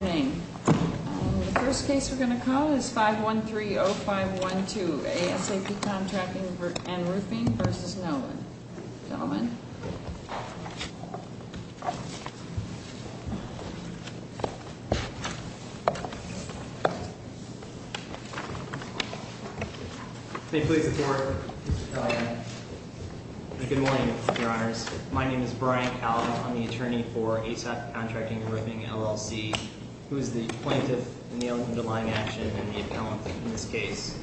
The first case we're going to call is 513-0512, ASAP Contracting & Roofing v. Nolan. Gentlemen. May it please the Court. Good morning, Your Honors. My name is Brian Callaghan. I'm the attorney for ASAP Contracting & Roofing, LLC, who is the plaintiff in the underlying action and the appellant in this case.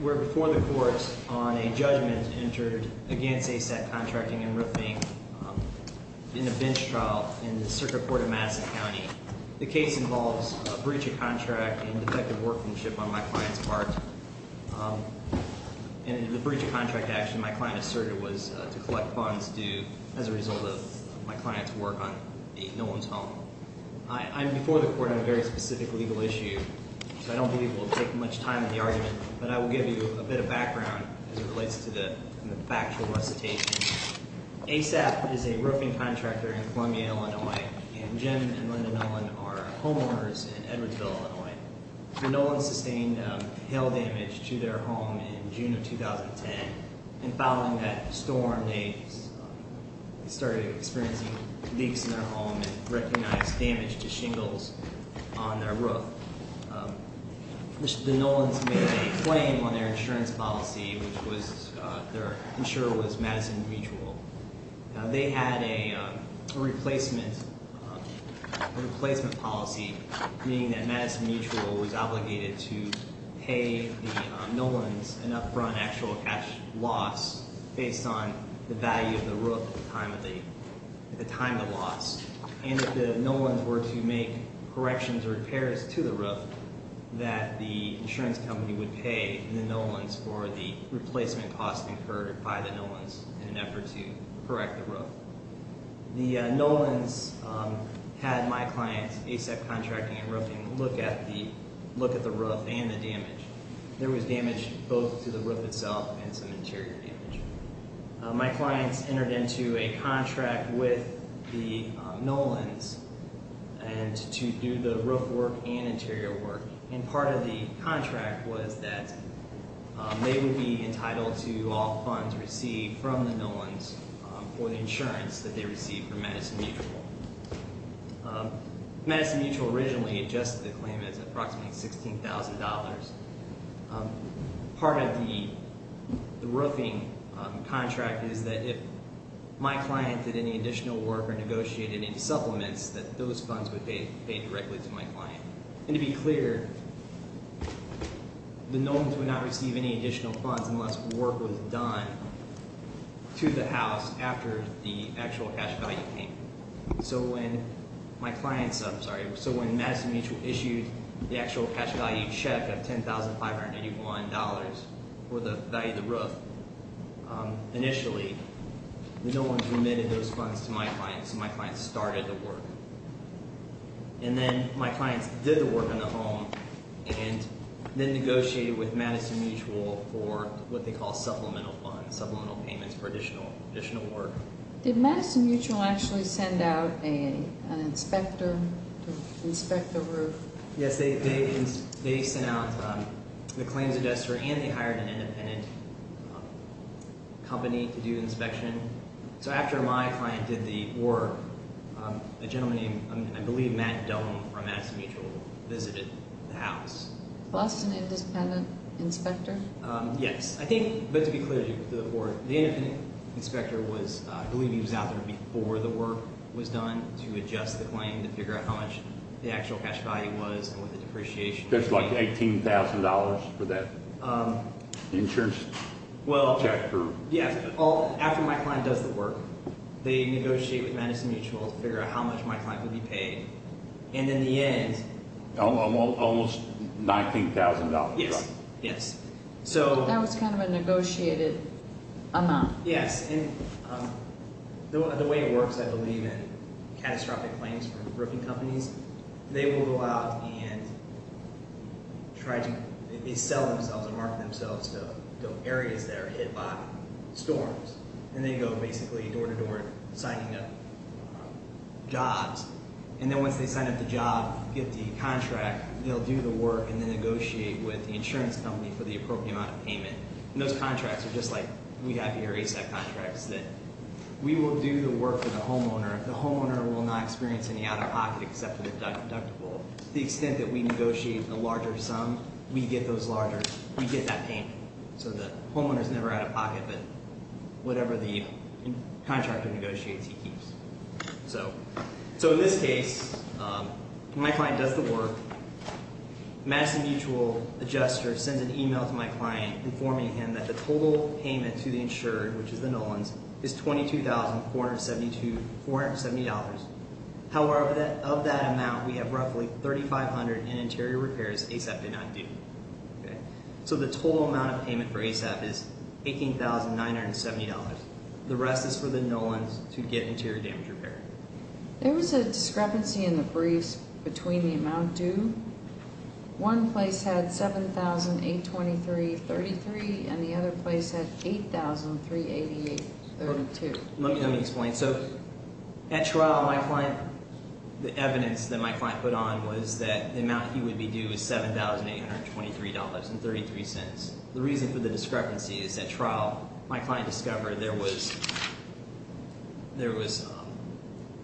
We're before the courts on a judgment entered against ASAP Contracting & Roofing in a bench trial in the Circuit Court of Madison County. The case involves a breach of contract and defective workmanship on my client's part. In the breach of contract action, my client asserted it was to collect funds due as a result of my client's work on Nolan's home. I'm before the court on a very specific legal issue, so I don't believe we'll take much time in the argument, but I will give you a bit of background as it relates to the factual recitation. ASAP is a roofing contractor in Columbia, Illinois, and Jim and Linda Nolan are homeowners in Edwardsville, Illinois. The Nolans sustained hail damage to their home in June of 2010, and following that storm, they started experiencing leaks in their home and recognized damage to shingles on their roof. The Nolans made a claim on their insurance policy, which was their insurer was Madison Mutual. They had a replacement policy, meaning that Madison Mutual was obligated to pay the Nolans an upfront actual cash loss based on the value of the roof at the time of the loss. And if the Nolans were to make corrections or repairs to the roof, that the insurance company would pay the Nolans for the replacement costs incurred by the Nolans in an effort to correct the roof. The Nolans had my client, ASAP Contracting and Roofing, look at the roof and the damage. There was damage both to the roof itself and some interior damage. My clients entered into a contract with the Nolans to do the roof work and interior work. And part of the contract was that they would be entitled to all funds received from the Nolans for the insurance that they received from Madison Mutual. Madison Mutual originally adjusted the claim as approximately $16,000. Part of the roofing contract is that if my client did any additional work or negotiated any supplements, that those funds would pay directly to my client. And to be clear, the Nolans would not receive any additional funds unless work was done to the house after the actual cash value came. So when Madison Mutual issued the actual cash value check of $10,581 for the value of the roof initially, the Nolans remitted those funds to my clients and my clients started the work. And then my clients did the work on the home and then negotiated with Madison Mutual for what they call supplemental funds, supplemental payments for additional work. Did Madison Mutual actually send out an inspector to inspect the roof? Yes, they sent out the claims adjuster and they hired an independent company to do inspection. So after my client did the work, a gentleman named, I believe, Matt Dunn from Madison Mutual visited the house. Plus an independent inspector? Yes. I think, but to be clear to the board, the independent inspector was, I believe he was out there before the work was done to adjust the claim to figure out how much the actual cash value was or the depreciation. Just like $18,000 for that insurance check? Well, yeah. After my client does the work, they negotiate with Madison Mutual to figure out how much my client would be paid. And in the end… Almost $19,000, right? Yes. That was kind of a negotiated amount. Yes. And the way it works, I believe, in catastrophic claims for roofing companies, they will go out and try to sell themselves or market themselves to areas that are hit by storms. And they go basically door-to-door signing up jobs. And then once they sign up the job, get the contract, they'll do the work and then negotiate with the insurance company for the appropriate amount of payment. And those contracts are just like we have here, ASAP contracts, that we will do the work for the homeowner. The homeowner will not experience any out-of-pocket except for the deductible. To the extent that we negotiate a larger sum, we get those larger – we get that payment. So the homeowner is never out-of-pocket, but whatever the contractor negotiates, he keeps. So in this case, my client does the work. Madison Mutual adjuster sends an email to my client informing him that the total payment to the insurer, which is the Nolans, is $22,472. However, of that amount, we have roughly $3,500 in interior repairs ASAP did not do. So the total amount of payment for ASAP is $18,970. The rest is for the Nolans to get interior damage repair. There was a discrepancy in the briefs between the amount due. One place had $7,823.33 and the other place had $8,388.32. Let me explain. So at trial, my client – the evidence that my client put on was that the amount he would be due is $7,823.33. The reason for the discrepancy is at trial, my client discovered there was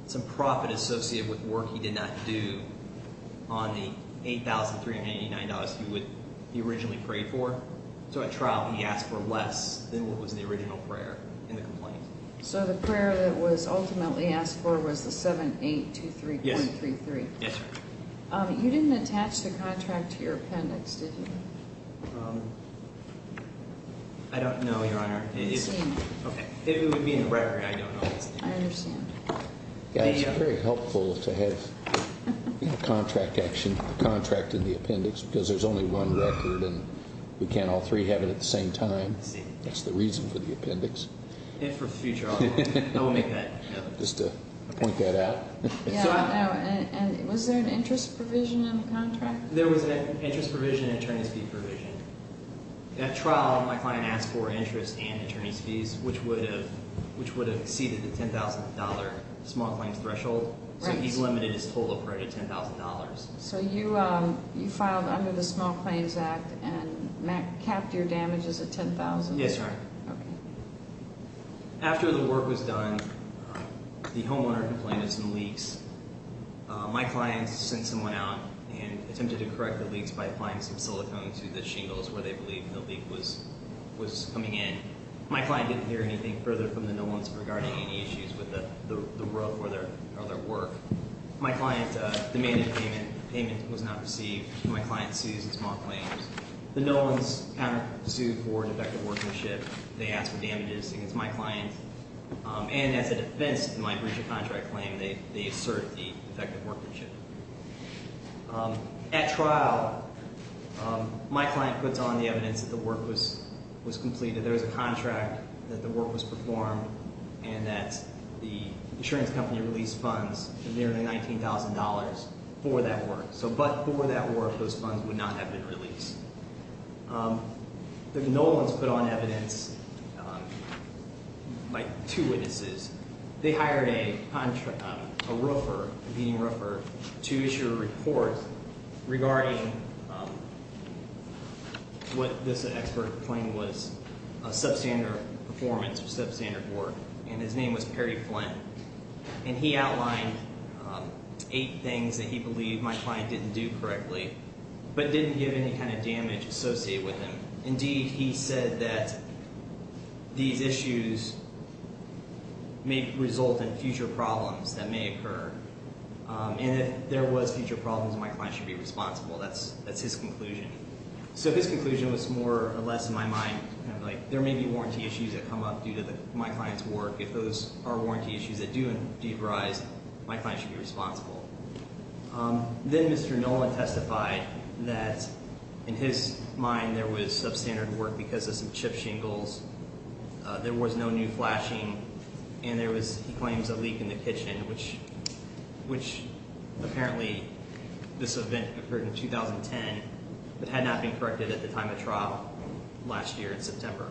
some profit associated with work he did not do on the $8,389 he originally prayed for. So at trial, he asked for less than what was the original prayer in the complaint. So the prayer that was ultimately asked for was the $7,823.33. Yes, sir. You didn't attach the contract to your appendix, did you? I don't know, Your Honor. It would be in the record. I don't know. I understand. It's very helpful to have a contract in the appendix because there's only one record and we can't all three have it at the same time. That's the reason for the appendix. And for future audit. I will make that note. Just to point that out. Was there an interest provision in the contract? There was an interest provision and an attorney's fee provision. At trial, my client asked for interest and attorney's fees, which would have exceeded the $10,000 small claims threshold. So he's limited his total prayer to $10,000. So you filed under the Small Claims Act and capped your damages at $10,000? Yes, Your Honor. Okay. After the work was done, the homeowner complained of some leaks. My client sent someone out and attempted to correct the leaks by applying some silicone to the shingles where they believed the leak was coming in. My client didn't hear anything further from the Nolans regarding any issues with the roof or their work. My client demanded payment. Payment was not received. My client sued the small claims. The Nolans counter-sued for defective workmanship. They asked for damages against my client. And as a defense to my breach of contract claim, they assert the defective workmanship. At trial, my client puts on the evidence that the work was completed. There was a contract that the work was performed and that the insurance company released funds of nearly $19,000 for that work. So but for that work, those funds would not have been released. The Nolans put on evidence by two witnesses. They hired a roofer, a competing roofer, to issue a report regarding what this expert claimed was a substandard performance or substandard work. And his name was Perry Flint. And he outlined eight things that he believed my client didn't do correctly but didn't give any kind of damage associated with them. Indeed, he said that these issues may result in future problems that may occur. And if there was future problems, my client should be responsible. That's his conclusion. So his conclusion was more or less in my mind kind of like there may be warranty issues that come up due to my client's work. If those are warranty issues that do indeed arise, my client should be responsible. Then Mr. Nolan testified that in his mind there was substandard work because of some chip shingles. There was no new flashing. And there was, he claims, a leak in the kitchen, which apparently this event occurred in 2010 but had not been corrected at the time of trial last year in September.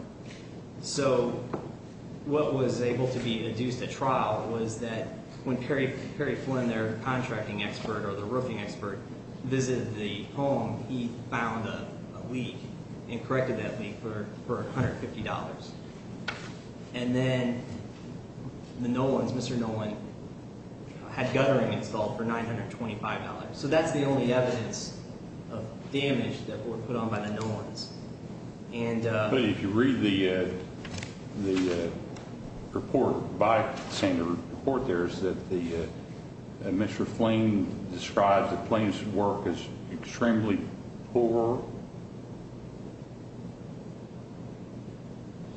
So what was able to be deduced at trial was that when Perry Flint, their contracting expert or the roofing expert, visited the home, he found a leak and corrected that leak for $150. And then the Nolans, Mr. Nolan, had guttering installed for $925. So that's the only evidence of damage that were put on by the Nolans. But if you read the report by Sander, the report there is that Mr. Flint described that Flint's work is extremely poor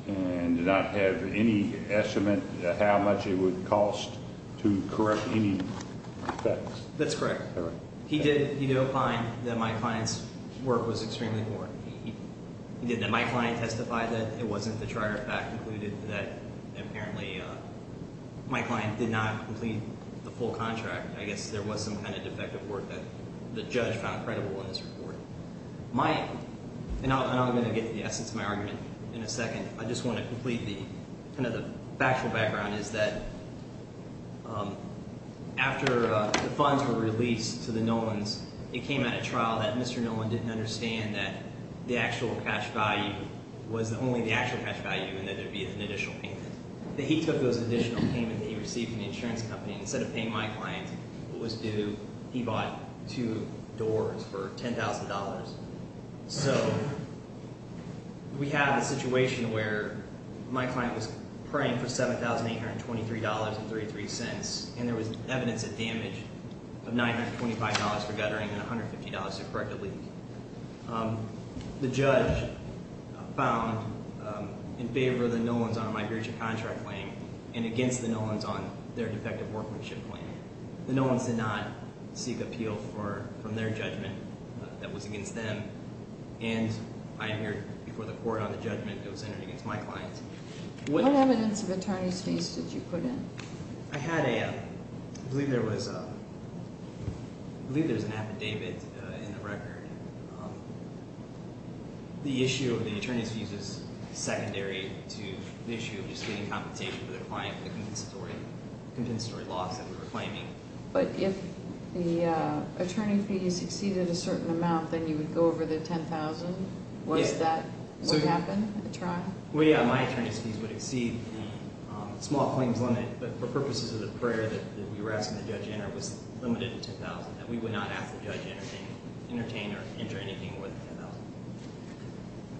and did not have any estimate of how much it would cost to correct any defects. That's correct. He did opine that my client's work was extremely poor. He did that my client testified that it wasn't the trier of fact concluded that apparently my client did not complete the full contract. I guess there was some kind of defective work that the judge found credible in this report. My, and I'm going to get to the essence of my argument in a second. I just want to complete the, kind of the factual background is that after the funds were released to the Nolans, it came out of trial that Mr. Nolan didn't understand that the actual cash value was only the actual cash value and that there would be an additional payment. That he took those additional payments that he received from the insurance company. Instead of paying my client what was due, he bought two doors for $10,000. So we have a situation where my client was praying for $7,823.33 and there was evidence of damage of $925 for guttering and $150 to correct a leak. The judge found in favor of the Nolans on a migration contract claim and against the Nolans on their defective workmanship claim. The Nolans did not seek appeal from their judgment that was against them. And I am here before the court on the judgment that was entered against my client. What evidence of attorney's fees did you put in? I had a, I believe there was a, I believe there was an affidavit in the record. The issue of the attorney's fees is secondary to the issue of just getting compensation for the client, the compensatory loss that we were claiming. But if the attorney fees exceeded a certain amount, then you would go over the $10,000? Yes. Was that what happened at trial? Well, yeah, my attorney's fees would exceed the small claims limit. But for purposes of the prayer that we were asking the judge to enter was limited to $10,000. We would not ask the judge to entertain or enter anything more than $10,000.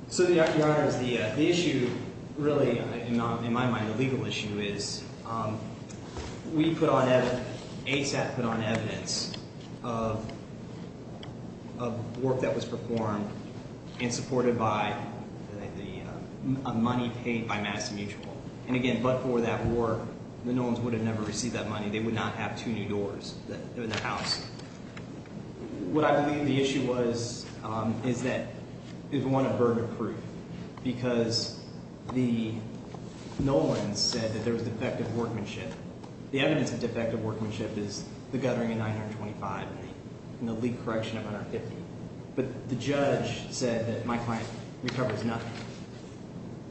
So, Your Honor, the issue really, in my mind, the legal issue is we put on, ASAP put on evidence of work that was performed and supported by a money paid by Madison Mutual. And again, but for that work, the Nolans would have never received that money. They would not have two new doors in their house. What I believe the issue was, is that, is one of verdict proof. Because the Nolans said that there was defective workmanship. The evidence of defective workmanship is the guttering of 925 and the leak correction of 150. But the judge said that my client recovers nothing.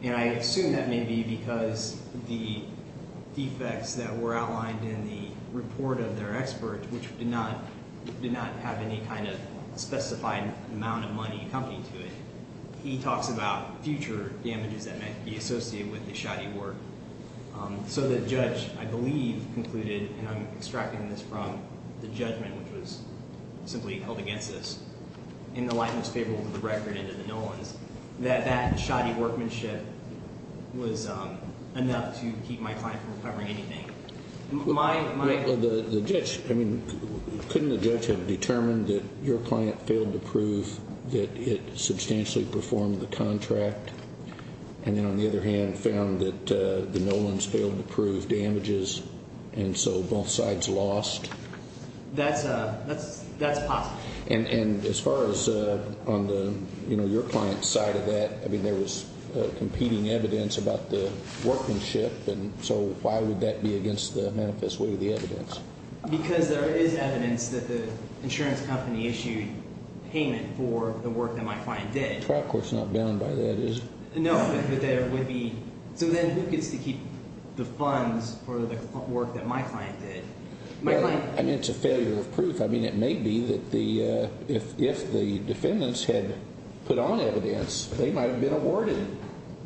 And I assume that may be because the defects that were outlined in the report of their expert, which did not have any kind of specified amount of money accompanied to it. He talks about future damages that might be associated with the shoddy work. So the judge, I believe, concluded, and I'm extracting this from the judgment, which was simply held against us. And the line was favorable to the record and to the Nolans, that that shoddy workmanship was enough to keep my client from recovering anything. My- Well, the judge, I mean, couldn't the judge have determined that your client failed to prove that it substantially performed the contract? And then on the other hand, found that the Nolans failed to prove damages, and so both sides lost? That's possible. And as far as on the, you know, your client's side of that, I mean, there was competing evidence about the workmanship. And so why would that be against the manifest way of the evidence? Because there is evidence that the insurance company issued payment for the work that my client did. Trial court's not bound by that, is it? No, but there would be. So then who gets to keep the funds for the work that my client did? My client- I mean, it's a failure of proof. I mean, it may be that the – if the defendants had put on evidence, they might have been awarded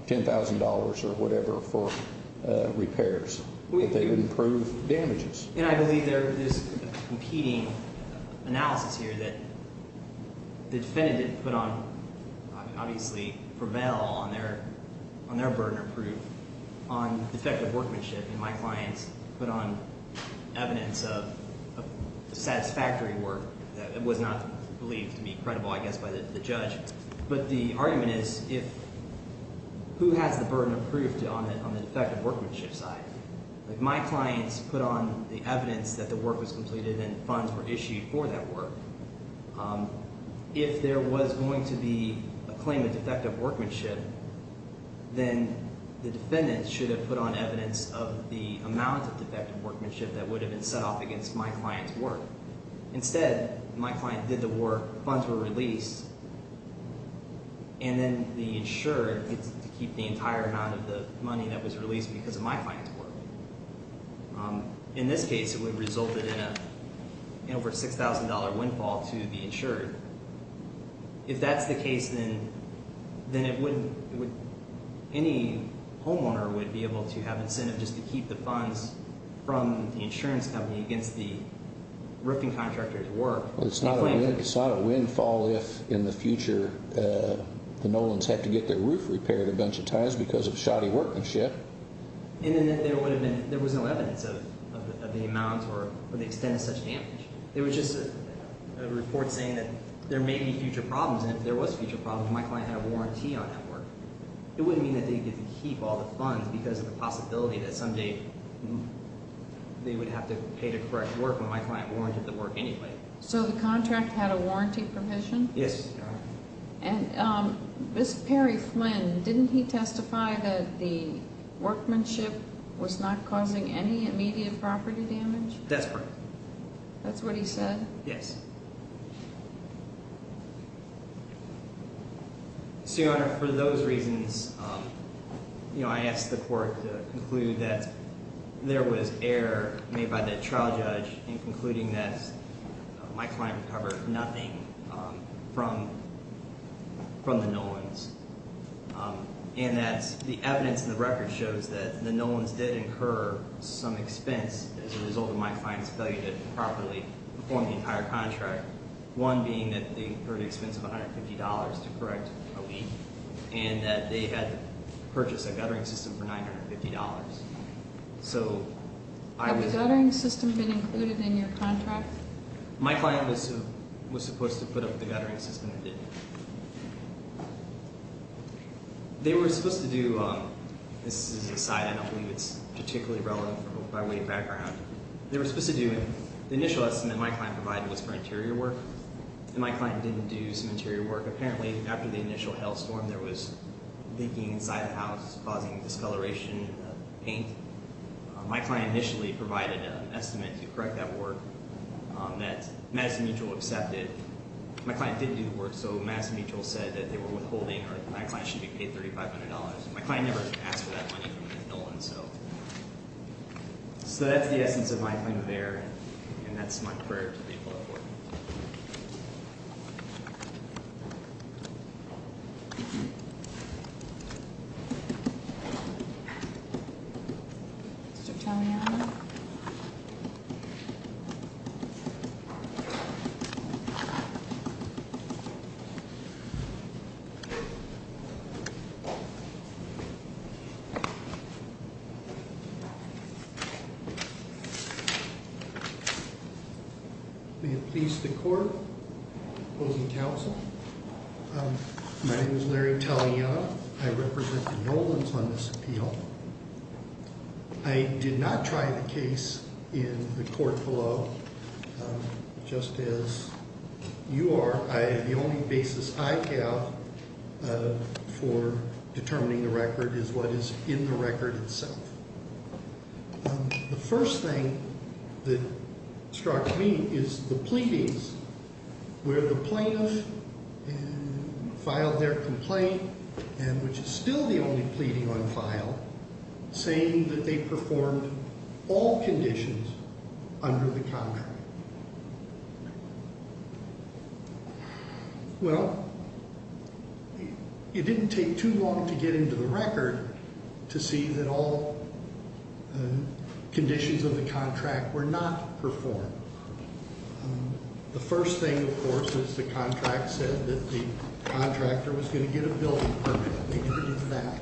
$10,000 or whatever for repairs. But they wouldn't prove damages. And I believe there is a competing analysis here that the defendant didn't put on – obviously for bail on their burden of proof on defective workmanship. And my clients put on evidence of satisfactory work that was not believed to be credible, I guess, by the judge. But the argument is if – who has the burden of proof on the defective workmanship side? My clients put on the evidence that the work was completed and funds were issued for that work. If there was going to be a claim of defective workmanship, then the defendant should have put on evidence of the amount of defective workmanship that would have been set off against my client's work. Instead, my client did the work, funds were released, and then the insured gets to keep the entire amount of the money that was released because of my client's work. In this case, it would have resulted in an over $6,000 windfall to the insured. If that's the case, then it wouldn't – any homeowner would be able to have incentive just to keep the funds from the insurance company against the roofing contractor's work. It's not a windfall if in the future the Nolans have to get their roof repaired a bunch of times because of shoddy workmanship. And then there would have been – there was no evidence of the amounts or the extent of such damage. There was just a report saying that there may be future problems, and if there was future problems, my client had a warranty on that work. It wouldn't mean that they'd get to keep all the funds because of the possibility that someday they would have to pay to correct work when my client warranted the work anyway. So the contract had a warranty provision? Yes, Your Honor. And Ms. Perry Flynn, didn't he testify that the workmanship was not causing any immediate property damage? That's correct. That's what he said? Yes. So, Your Honor, for those reasons, I asked the court to conclude that there was error made by the trial judge in concluding that my client recovered nothing from the Nolans. And that the evidence in the record shows that the Nolans did incur some expense as a result of my client's failure to properly perform the entire contract, one being that they incurred the expense of $150 to correct a leak and that they had purchased a guttering system for $950. So I was – Had the guttering system been included in your contract? My client was supposed to put up the guttering system and did. They were supposed to do – this is an aside, and I believe it's particularly relevant for both my weight and background. They were supposed to do – the initial estimate my client provided was for interior work, and my client didn't do some interior work. Apparently, after the initial hailstorm, there was leaking inside the house, causing discoloration in the paint. My client initially provided an estimate to correct that work that Madison Mutual accepted. My client didn't do the work, so Madison Mutual said that they were withholding or my client shouldn't be paid $3,500. My client never asked for that money from the Nolans, so that's the essence of my claim of error, and that's my prayer to people at work. Mr. Tamiano? Thank you. May it please the court, opposing counsel, my name is Larry Tamiano. I represent the Nolans on this appeal. I did not try the case in the court below. Just as you are, the only basis I have for determining the record is what is in the record itself. The first thing that struck me is the pleadings where the plaintiff filed their complaint, and which is still the only pleading on file, saying that they performed all conditions under the contract. Well, it didn't take too long to get into the record to see that all conditions of the contract were not performed. The first thing, of course, is the contract said that the contractor was going to get a building permit, and they did that.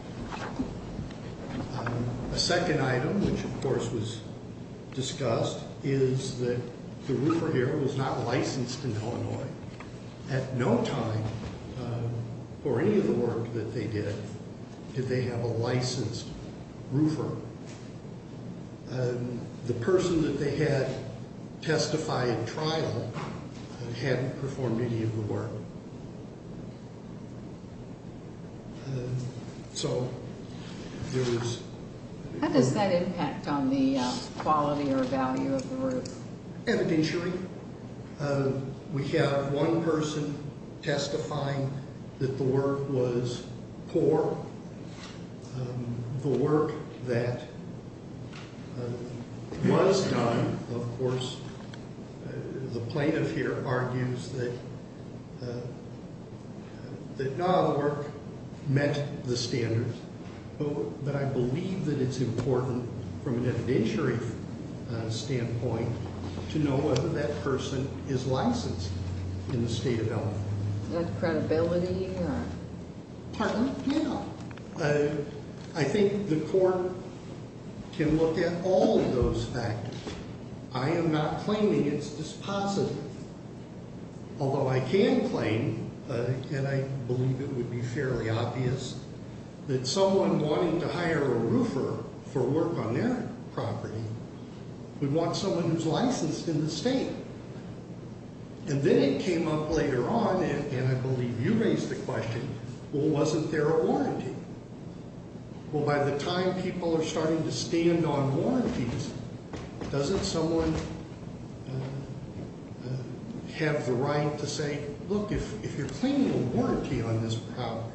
A second item, which of course was discussed, is that the roofer here was not licensed in Illinois. At no time, or any of the work that they did, did they have a licensed roofer. The person that they had testified trial hadn't performed any of the work. So, there was... How does that impact on the quality or value of the roof? Evidentially. We have one person testifying that the work was poor. The work that was done, of course, the plaintiff here argues that not all the work met the standards, but I believe that it's important from an evidentiary standpoint to know whether that person is licensed in the state of Illinois. That credibility? I think the court can look at all of those factors. I am not claiming it's dispositive. Although I can claim, and I believe it would be fairly obvious, that someone wanting to hire a roofer for work on their property would want someone who's licensed in the state. And then it came up later on, and I believe you raised the question, well, wasn't there a warranty? Well, by the time people are starting to stand on warranties, doesn't someone have the right to say, look, if you're claiming a warranty on this property,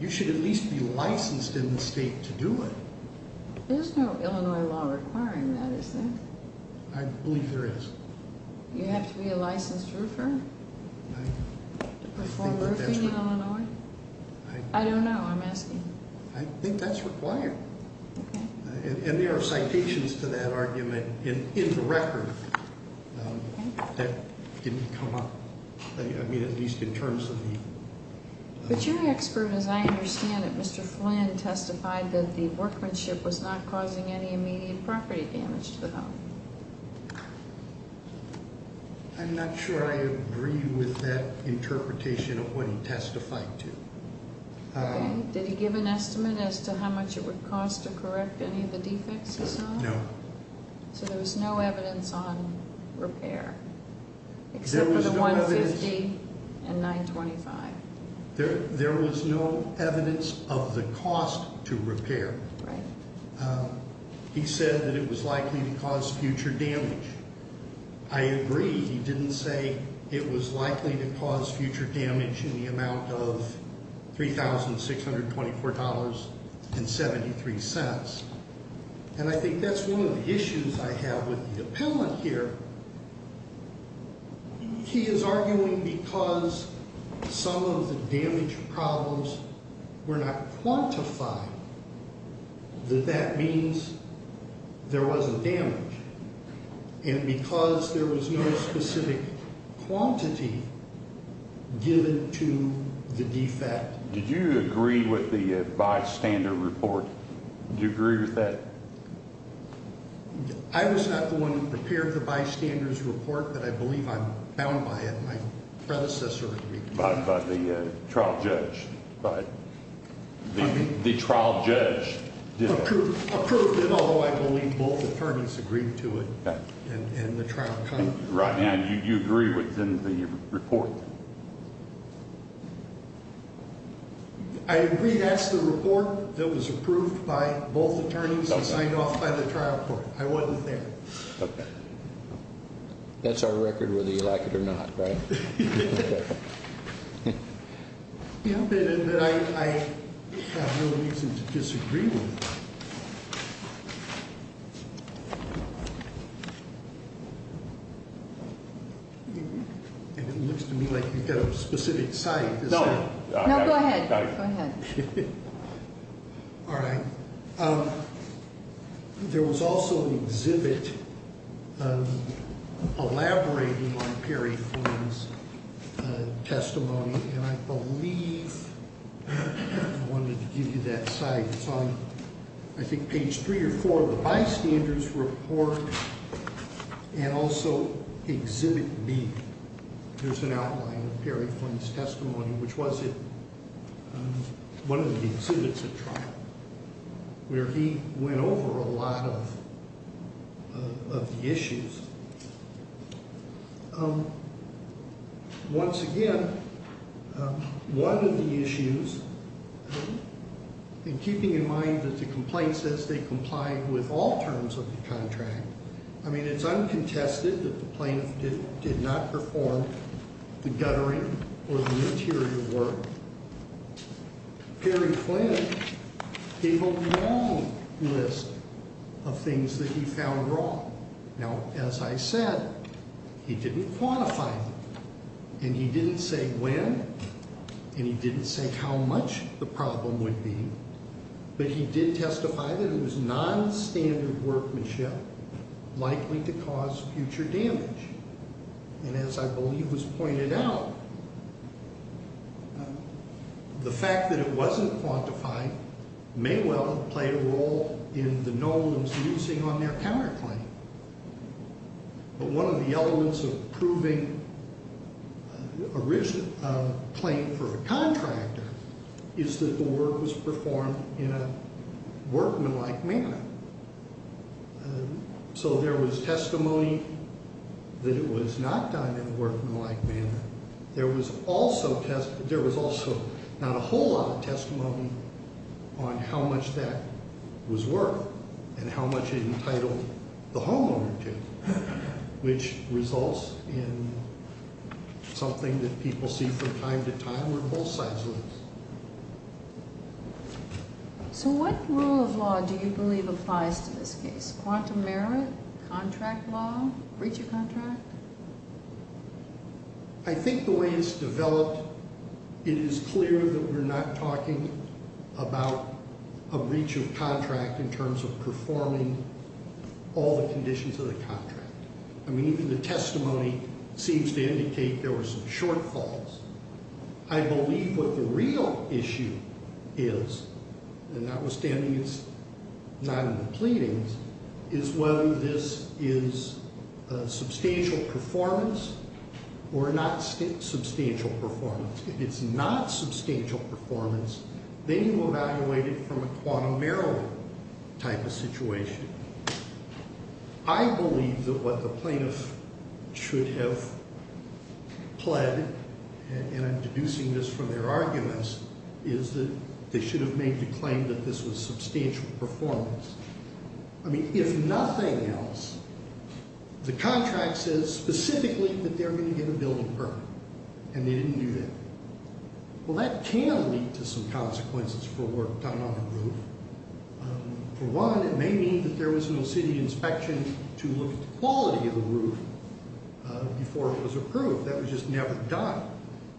you should at least be licensed in the state to do it. There's no Illinois law requiring that, is there? I believe there is. You have to be a licensed roofer to perform roofing in Illinois? I don't know, I'm asking. I think that's required. Okay. And there are citations to that argument in the record that didn't come up, at least in terms of the- But your expert, as I understand it, Mr. Flynn, testified that the workmanship was not causing any immediate property damage to the home. I'm not sure I agree with that interpretation of what he testified to. Okay. Did he give an estimate as to how much it would cost to correct any of the defects he saw? No. So there was no evidence on repair, except for the 150 and 925. There was no evidence of the cost to repair. Right. He said that it was likely to cause future damage. I agree. He didn't say it was likely to cause future damage in the amount of $3,624.73. And I think that's one of the issues I have with the appellant here. He is arguing because some of the damage problems were not quantified, that that means there wasn't damage. And because there was no specific quantity given to the defect. Did you agree with the bystander report? Did you agree with that? I was not the one who prepared the bystander's report, but I believe I'm bound by it. My predecessor agreed with that. By the trial judge. By the trial judge. Approved it, although I believe both attorneys agreed to it. Okay. Right. And you agree within the report? I agree. That's the report that was approved by both attorneys and signed off by the trial court. I wasn't there. Okay. That's our record, whether you like it or not, right? Yeah, but I have no reason to disagree with that. And it looks to me like you've got a specific site. No. No, go ahead. Go ahead. All right. There was also an exhibit elaborating on Perry Flynn's testimony. And I believe I wanted to give you that site. It's on, I think, page three or four of the bystander's report and also exhibit B. There's an outline of Perry Flynn's testimony, which was in one of the exhibits at trial, where he went over a lot of the issues. Once again, one of the issues, and keeping in mind that the complaint says they complied with all terms of the contract, I mean, it's uncontested that the plaintiff did not perform the guttering or the material work. Perry Flynn gave a long list of things that he found wrong. Now, as I said, he didn't quantify them, and he didn't say when, and he didn't say how much the problem would be, but he did testify that it was nonstandard workmanship likely to cause future damage. And as I believe was pointed out, the fact that it wasn't quantified may well have played a role in the norms using on their counterclaim. But one of the elements of proving a claim for a contractor is that the work was performed in a workmanlike manner. So there was testimony that it was not done in a workmanlike manner. There was also not a whole lot of testimony on how much that was worth and how much it entitled the homeowner to, which results in something that people see from time to time where both sides lose. So what rule of law do you believe applies to this case? Quantum merit, contract law, breach of contract? I think the way it's developed, it is clear that we're not talking about a breach of contract in terms of performing all the conditions of the contract. I mean, even the testimony seems to indicate there were some shortfalls. I believe what the real issue is, and notwithstanding it's not in the pleadings, is whether this is substantial performance or not substantial performance. If it's not substantial performance, then you evaluate it from a quantum merit type of situation. I believe that what the plaintiff should have pled, and I'm deducing this from their arguments, is that they should have made the claim that this was substantial performance. I mean, if nothing else, the contract says specifically that they're going to get a building permit, and they didn't do that. Well, that can lead to some consequences for work done on the roof. For one, it may mean that there was no city inspection to look at the quality of the roof before it was approved. That was just never done.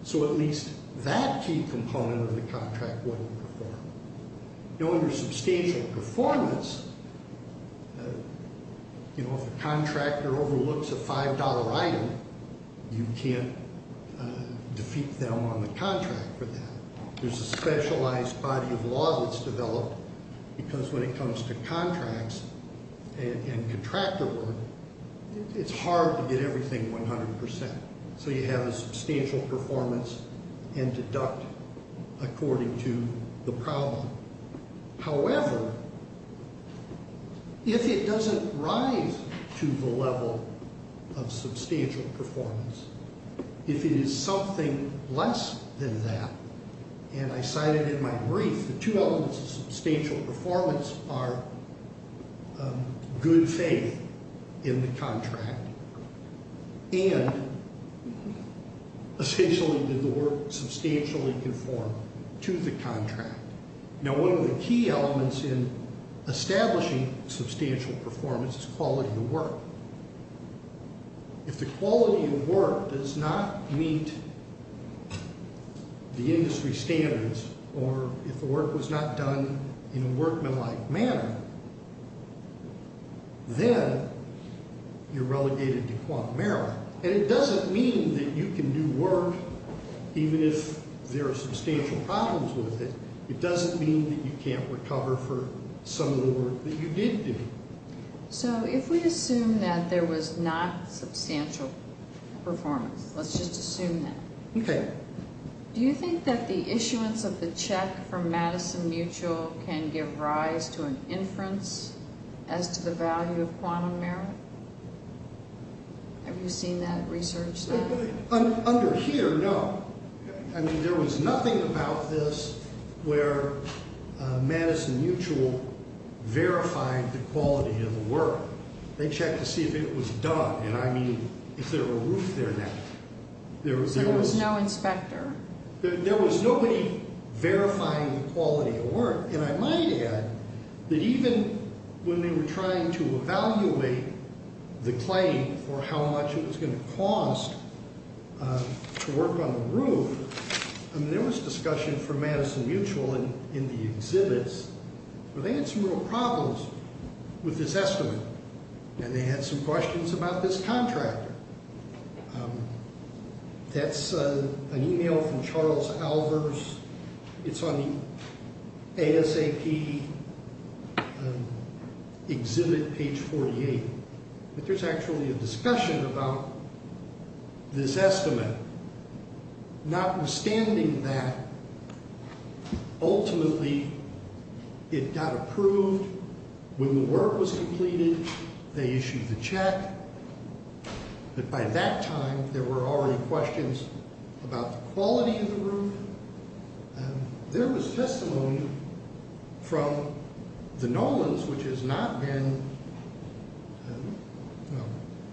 So at least that key component of the contract wasn't performed. Now, under substantial performance, you know, if a contractor overlooks a $5 item, you can't defeat them on the contract for that. There's a specialized body of law that's developed because when it comes to contracts and contractor work, it's hard to get everything 100%. So you have a substantial performance and deduct according to the problem. However, if it doesn't rise to the level of substantial performance, if it is something less than that, and I cited in my brief the two elements of substantial performance are good faith in the contract, and essentially did the work substantially conform to the contract. Now, one of the key elements in establishing substantial performance is quality of work. If the quality of work does not meet the industry standards, or if the work was not done in a workmanlike manner, then you're relegated to quant merit. And it doesn't mean that you can do work even if there are substantial problems with it. It doesn't mean that you can't recover for some of the work that you did do. So if we assume that there was not substantial performance, let's just assume that. Okay. Do you think that the issuance of the check from Madison Mutual can give rise to an inference as to the value of quantum merit? Have you seen that research? Under here, no. I mean, there was nothing about this where Madison Mutual verified the quality of the work. They checked to see if it was done. And I mean, is there a roof there now? So there was no inspector? There was nobody verifying the quality of the work. And I might add that even when they were trying to evaluate the claim for how much it was going to cost to work on the roof, I mean, there was discussion from Madison Mutual in the exhibits where they had some real problems with this estimate. And they had some questions about this contractor. That's an email from Charles Alvers. It's on the ASAP exhibit page 48. But there's actually a discussion about this estimate. Notwithstanding that, ultimately it got approved. When the work was completed, they issued the check. But by that time, there were already questions about the quality of the roof. There was testimony from the Nolans, which has not been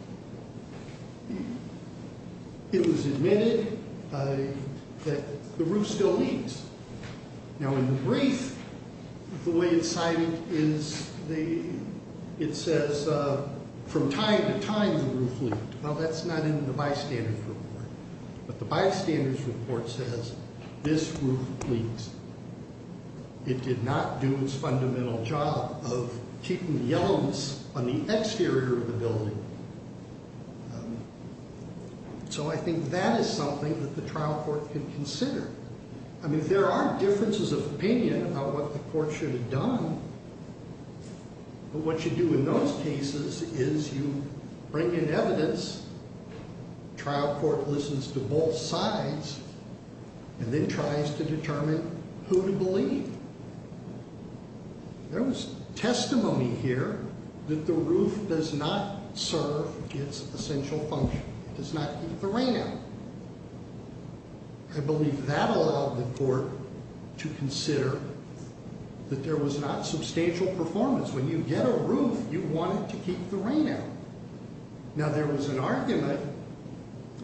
– it was admitted that the roof still needs. Now, in the brief, the way it's cited is it says from time to time the roof leaked. Well, that's not in the bystanders report. But the bystanders report says this roof leaked. It did not do its fundamental job of keeping the yellowness on the exterior of the building. So I think that is something that the trial court can consider. I mean, there are differences of opinion about what the court should have done. But what you do in those cases is you bring in evidence, trial court listens to both sides, and then tries to determine who to believe. There was testimony here that the roof does not serve its essential function. It does not keep the rain out. I believe that allowed the court to consider that there was not substantial performance. When you get a roof, you want it to keep the rain out. Now, there was an argument,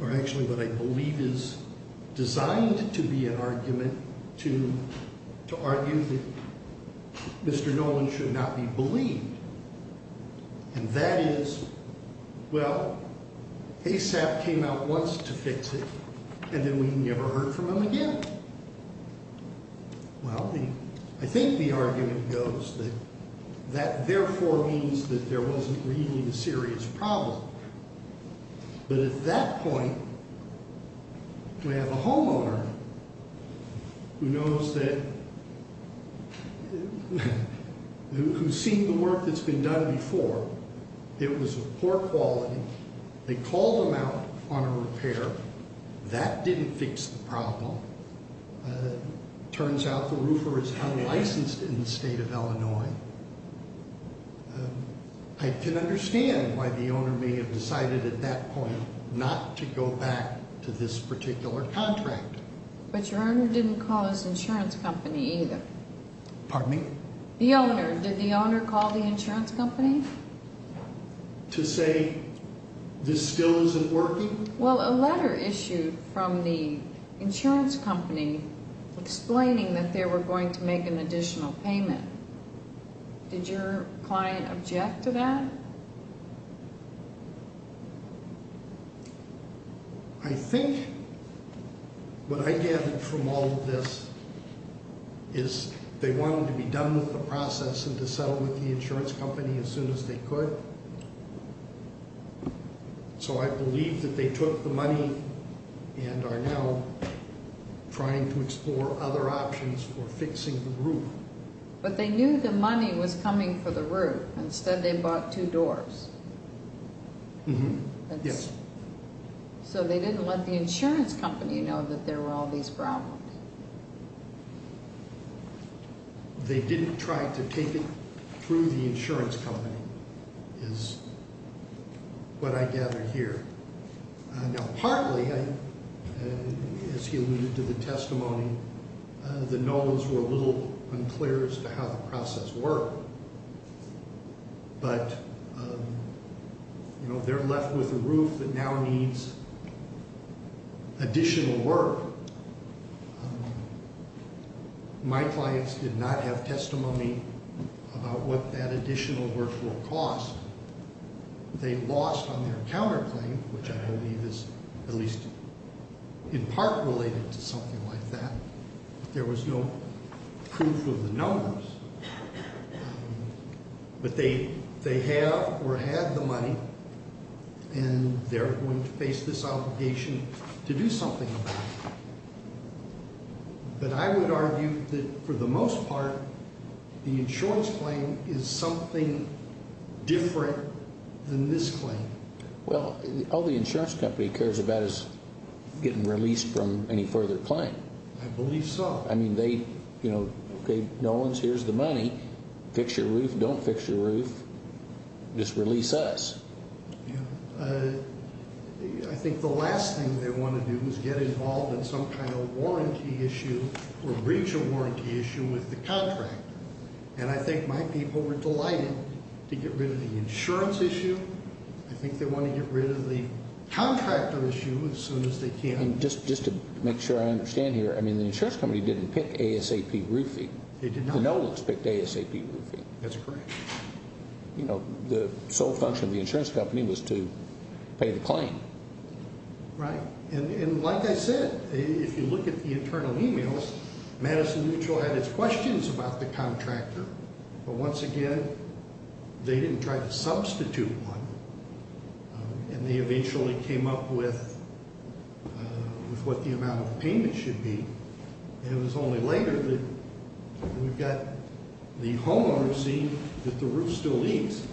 or actually what I believe is designed to be an argument, to argue that Mr. Nolan should not be believed. And that is, well, ASAP came out once to fix it, and then we never heard from him again. Well, I think the argument goes that that therefore means that there wasn't really a serious problem. But at that point, we have a homeowner who knows that, who's seen the work that's been done before. It was of poor quality. They called him out on a repair. That didn't fix the problem. Turns out the roofer is unlicensed in the state of Illinois. I can understand why the owner may have decided at that point not to go back to this particular contract. But your owner didn't call his insurance company either. Pardon me? The owner. Did the owner call the insurance company? To say this still isn't working? Well, a letter issued from the insurance company explaining that they were going to make an additional payment. Did your client object to that? I think what I gathered from all of this is they wanted to be done with the process and to settle with the insurance company as soon as they could. So I believe that they took the money and are now trying to explore other options for fixing the roof. But they knew the money was coming for the roof. Instead, they bought two doors. Yes. So they didn't let the insurance company know that there were all these problems. They didn't try to take it through the insurance company is what I gathered here. Now partly, as he alluded to the testimony, the no's were a little unclear as to how the process worked. But they're left with a roof that now needs additional work. My clients did not have testimony about what that additional work will cost. They lost on their counterclaim, which I believe is at least in part related to something like that. There was no proof of the numbers. But they have or had the money and they're going to face this obligation to do something about it. But I would argue that for the most part, the insurance claim is something different than this claim. Well, all the insurance company cares about is getting released from any further claim. I believe so. I mean, they gave no one's here's the money, fix your roof, don't fix your roof, just release us. I think the last thing they want to do is get involved in some kind of warranty issue or breach of warranty issue with the contractor. And I think my people were delighted to get rid of the insurance issue. I think they want to get rid of the contractor issue as soon as they can. Just to make sure I understand here, I mean, the insurance company didn't pick ASAP roofing. They did not. No one's picked ASAP roofing. That's correct. The sole function of the insurance company was to pay the claim. Right. And like I said, if you look at the internal emails, Madison Mutual had its questions about the contractor. But once again, they didn't try to substitute one. And they eventually came up with what the amount of payment should be. And it was only later that we got the homeowner to see that the roof still needs.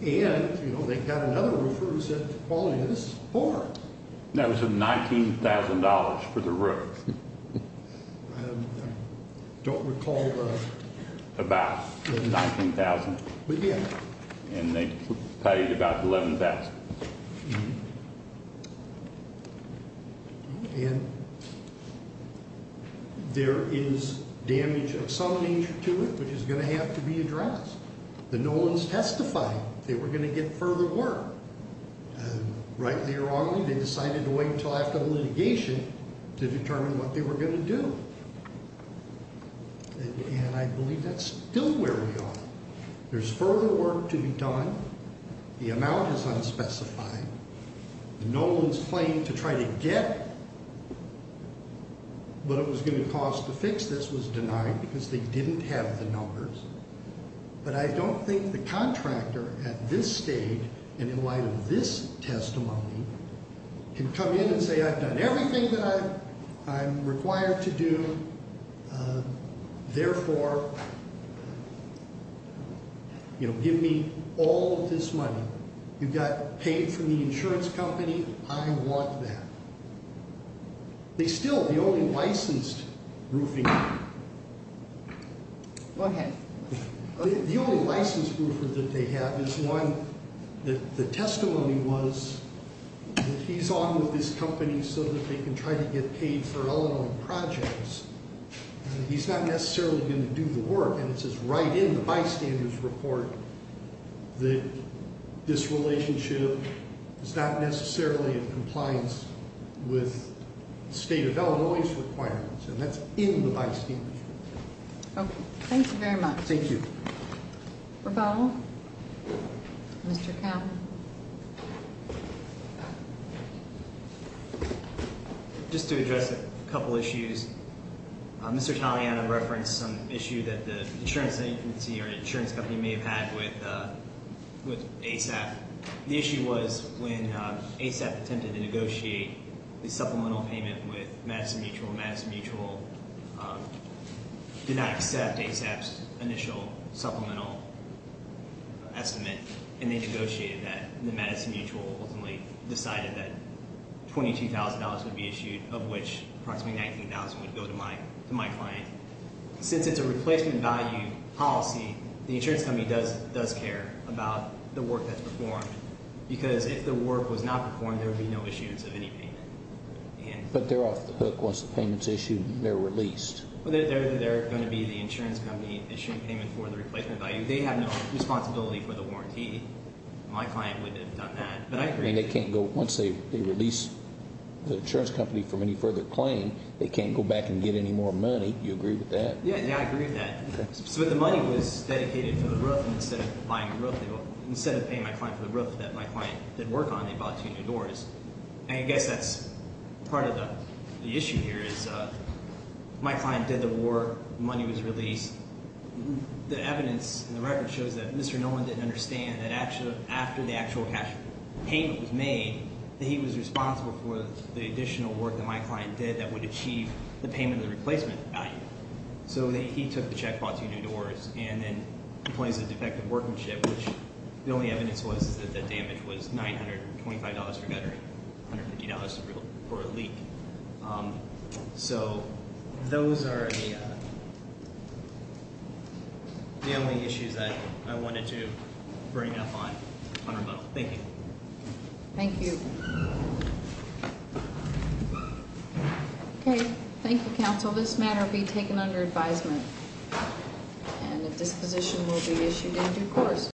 And, you know, they got another roofer who said the quality of this is poor. That was $19,000 for the roof. I don't recall. About $19,000. Yeah. And they paid about $11,000. And there is damage of some nature to it, which is going to have to be addressed. But no one's testified they were going to get further work. Rightly or wrongly, they decided to wait until after the litigation to determine what they were going to do. And I believe that's still where we are. There's further work to be done. The amount is unspecified. No one's claim to try to get what it was going to cost to fix this was denied because they didn't have the numbers. But I don't think the contractor at this stage, and in light of this testimony, can come in and say, I've done everything that I'm required to do. Therefore, you know, give me all of this money. You got paid from the insurance company. I want that. They still, the only licensed roofing... Okay. The only licensed roofer that they have is one that the testimony was that he's on with this company so that they can try to get paid for all of the projects. He's not necessarily going to do the work. And it says right in the bystander's report that this relationship is not necessarily in compliance with the state of Illinois's requirements. And that's in the bystander's report. Okay. Thank you very much. Thank you. Rebuttal? Mr. Campbell? Just to address a couple issues. Mr. Taliana referenced some issue that the insurance agency or the insurance company may have had with ASAP. The issue was when ASAP attempted to negotiate the supplemental payment with Madison Mutual. Madison Mutual did not accept ASAP's initial supplemental estimate. And they negotiated that. The Madison Mutual ultimately decided that $22,000 would be issued, of which approximately $19,000 would go to my client. Since it's a replacement value policy, the insurance company does care about the work that's performed. Because if the work was not performed, there would be no issuance of any payment. But they're off the hook once the payment's issued and they're released. They're going to be the insurance company issuing payment for the replacement value. They have no responsibility for the warranty. My client wouldn't have done that. But I agree. I mean, they can't go. Once they release the insurance company from any further claim, they can't go back and get any more money. Do you agree with that? Yeah, I agree with that. So the money was dedicated for the roof. And instead of buying a roof, instead of paying my client for the roof that my client did work on, they bought two new doors. And I guess that's part of the issue here is my client did the work. The money was released. The evidence in the record shows that Mr. Nolan didn't understand that after the actual payment was made, that he was responsible for the additional work that my client did that would achieve the payment of the replacement value. So he took the check, bought two new doors, and then complains of defective workmanship, which the only evidence was that the damage was $925 for guttering, $150 for a leak. So those are the only issues that I wanted to bring up on rebuttal. Thank you. Thank you. Okay. Thank you, counsel. This matter will be taken under advisement, and a disposition will be issued in due course.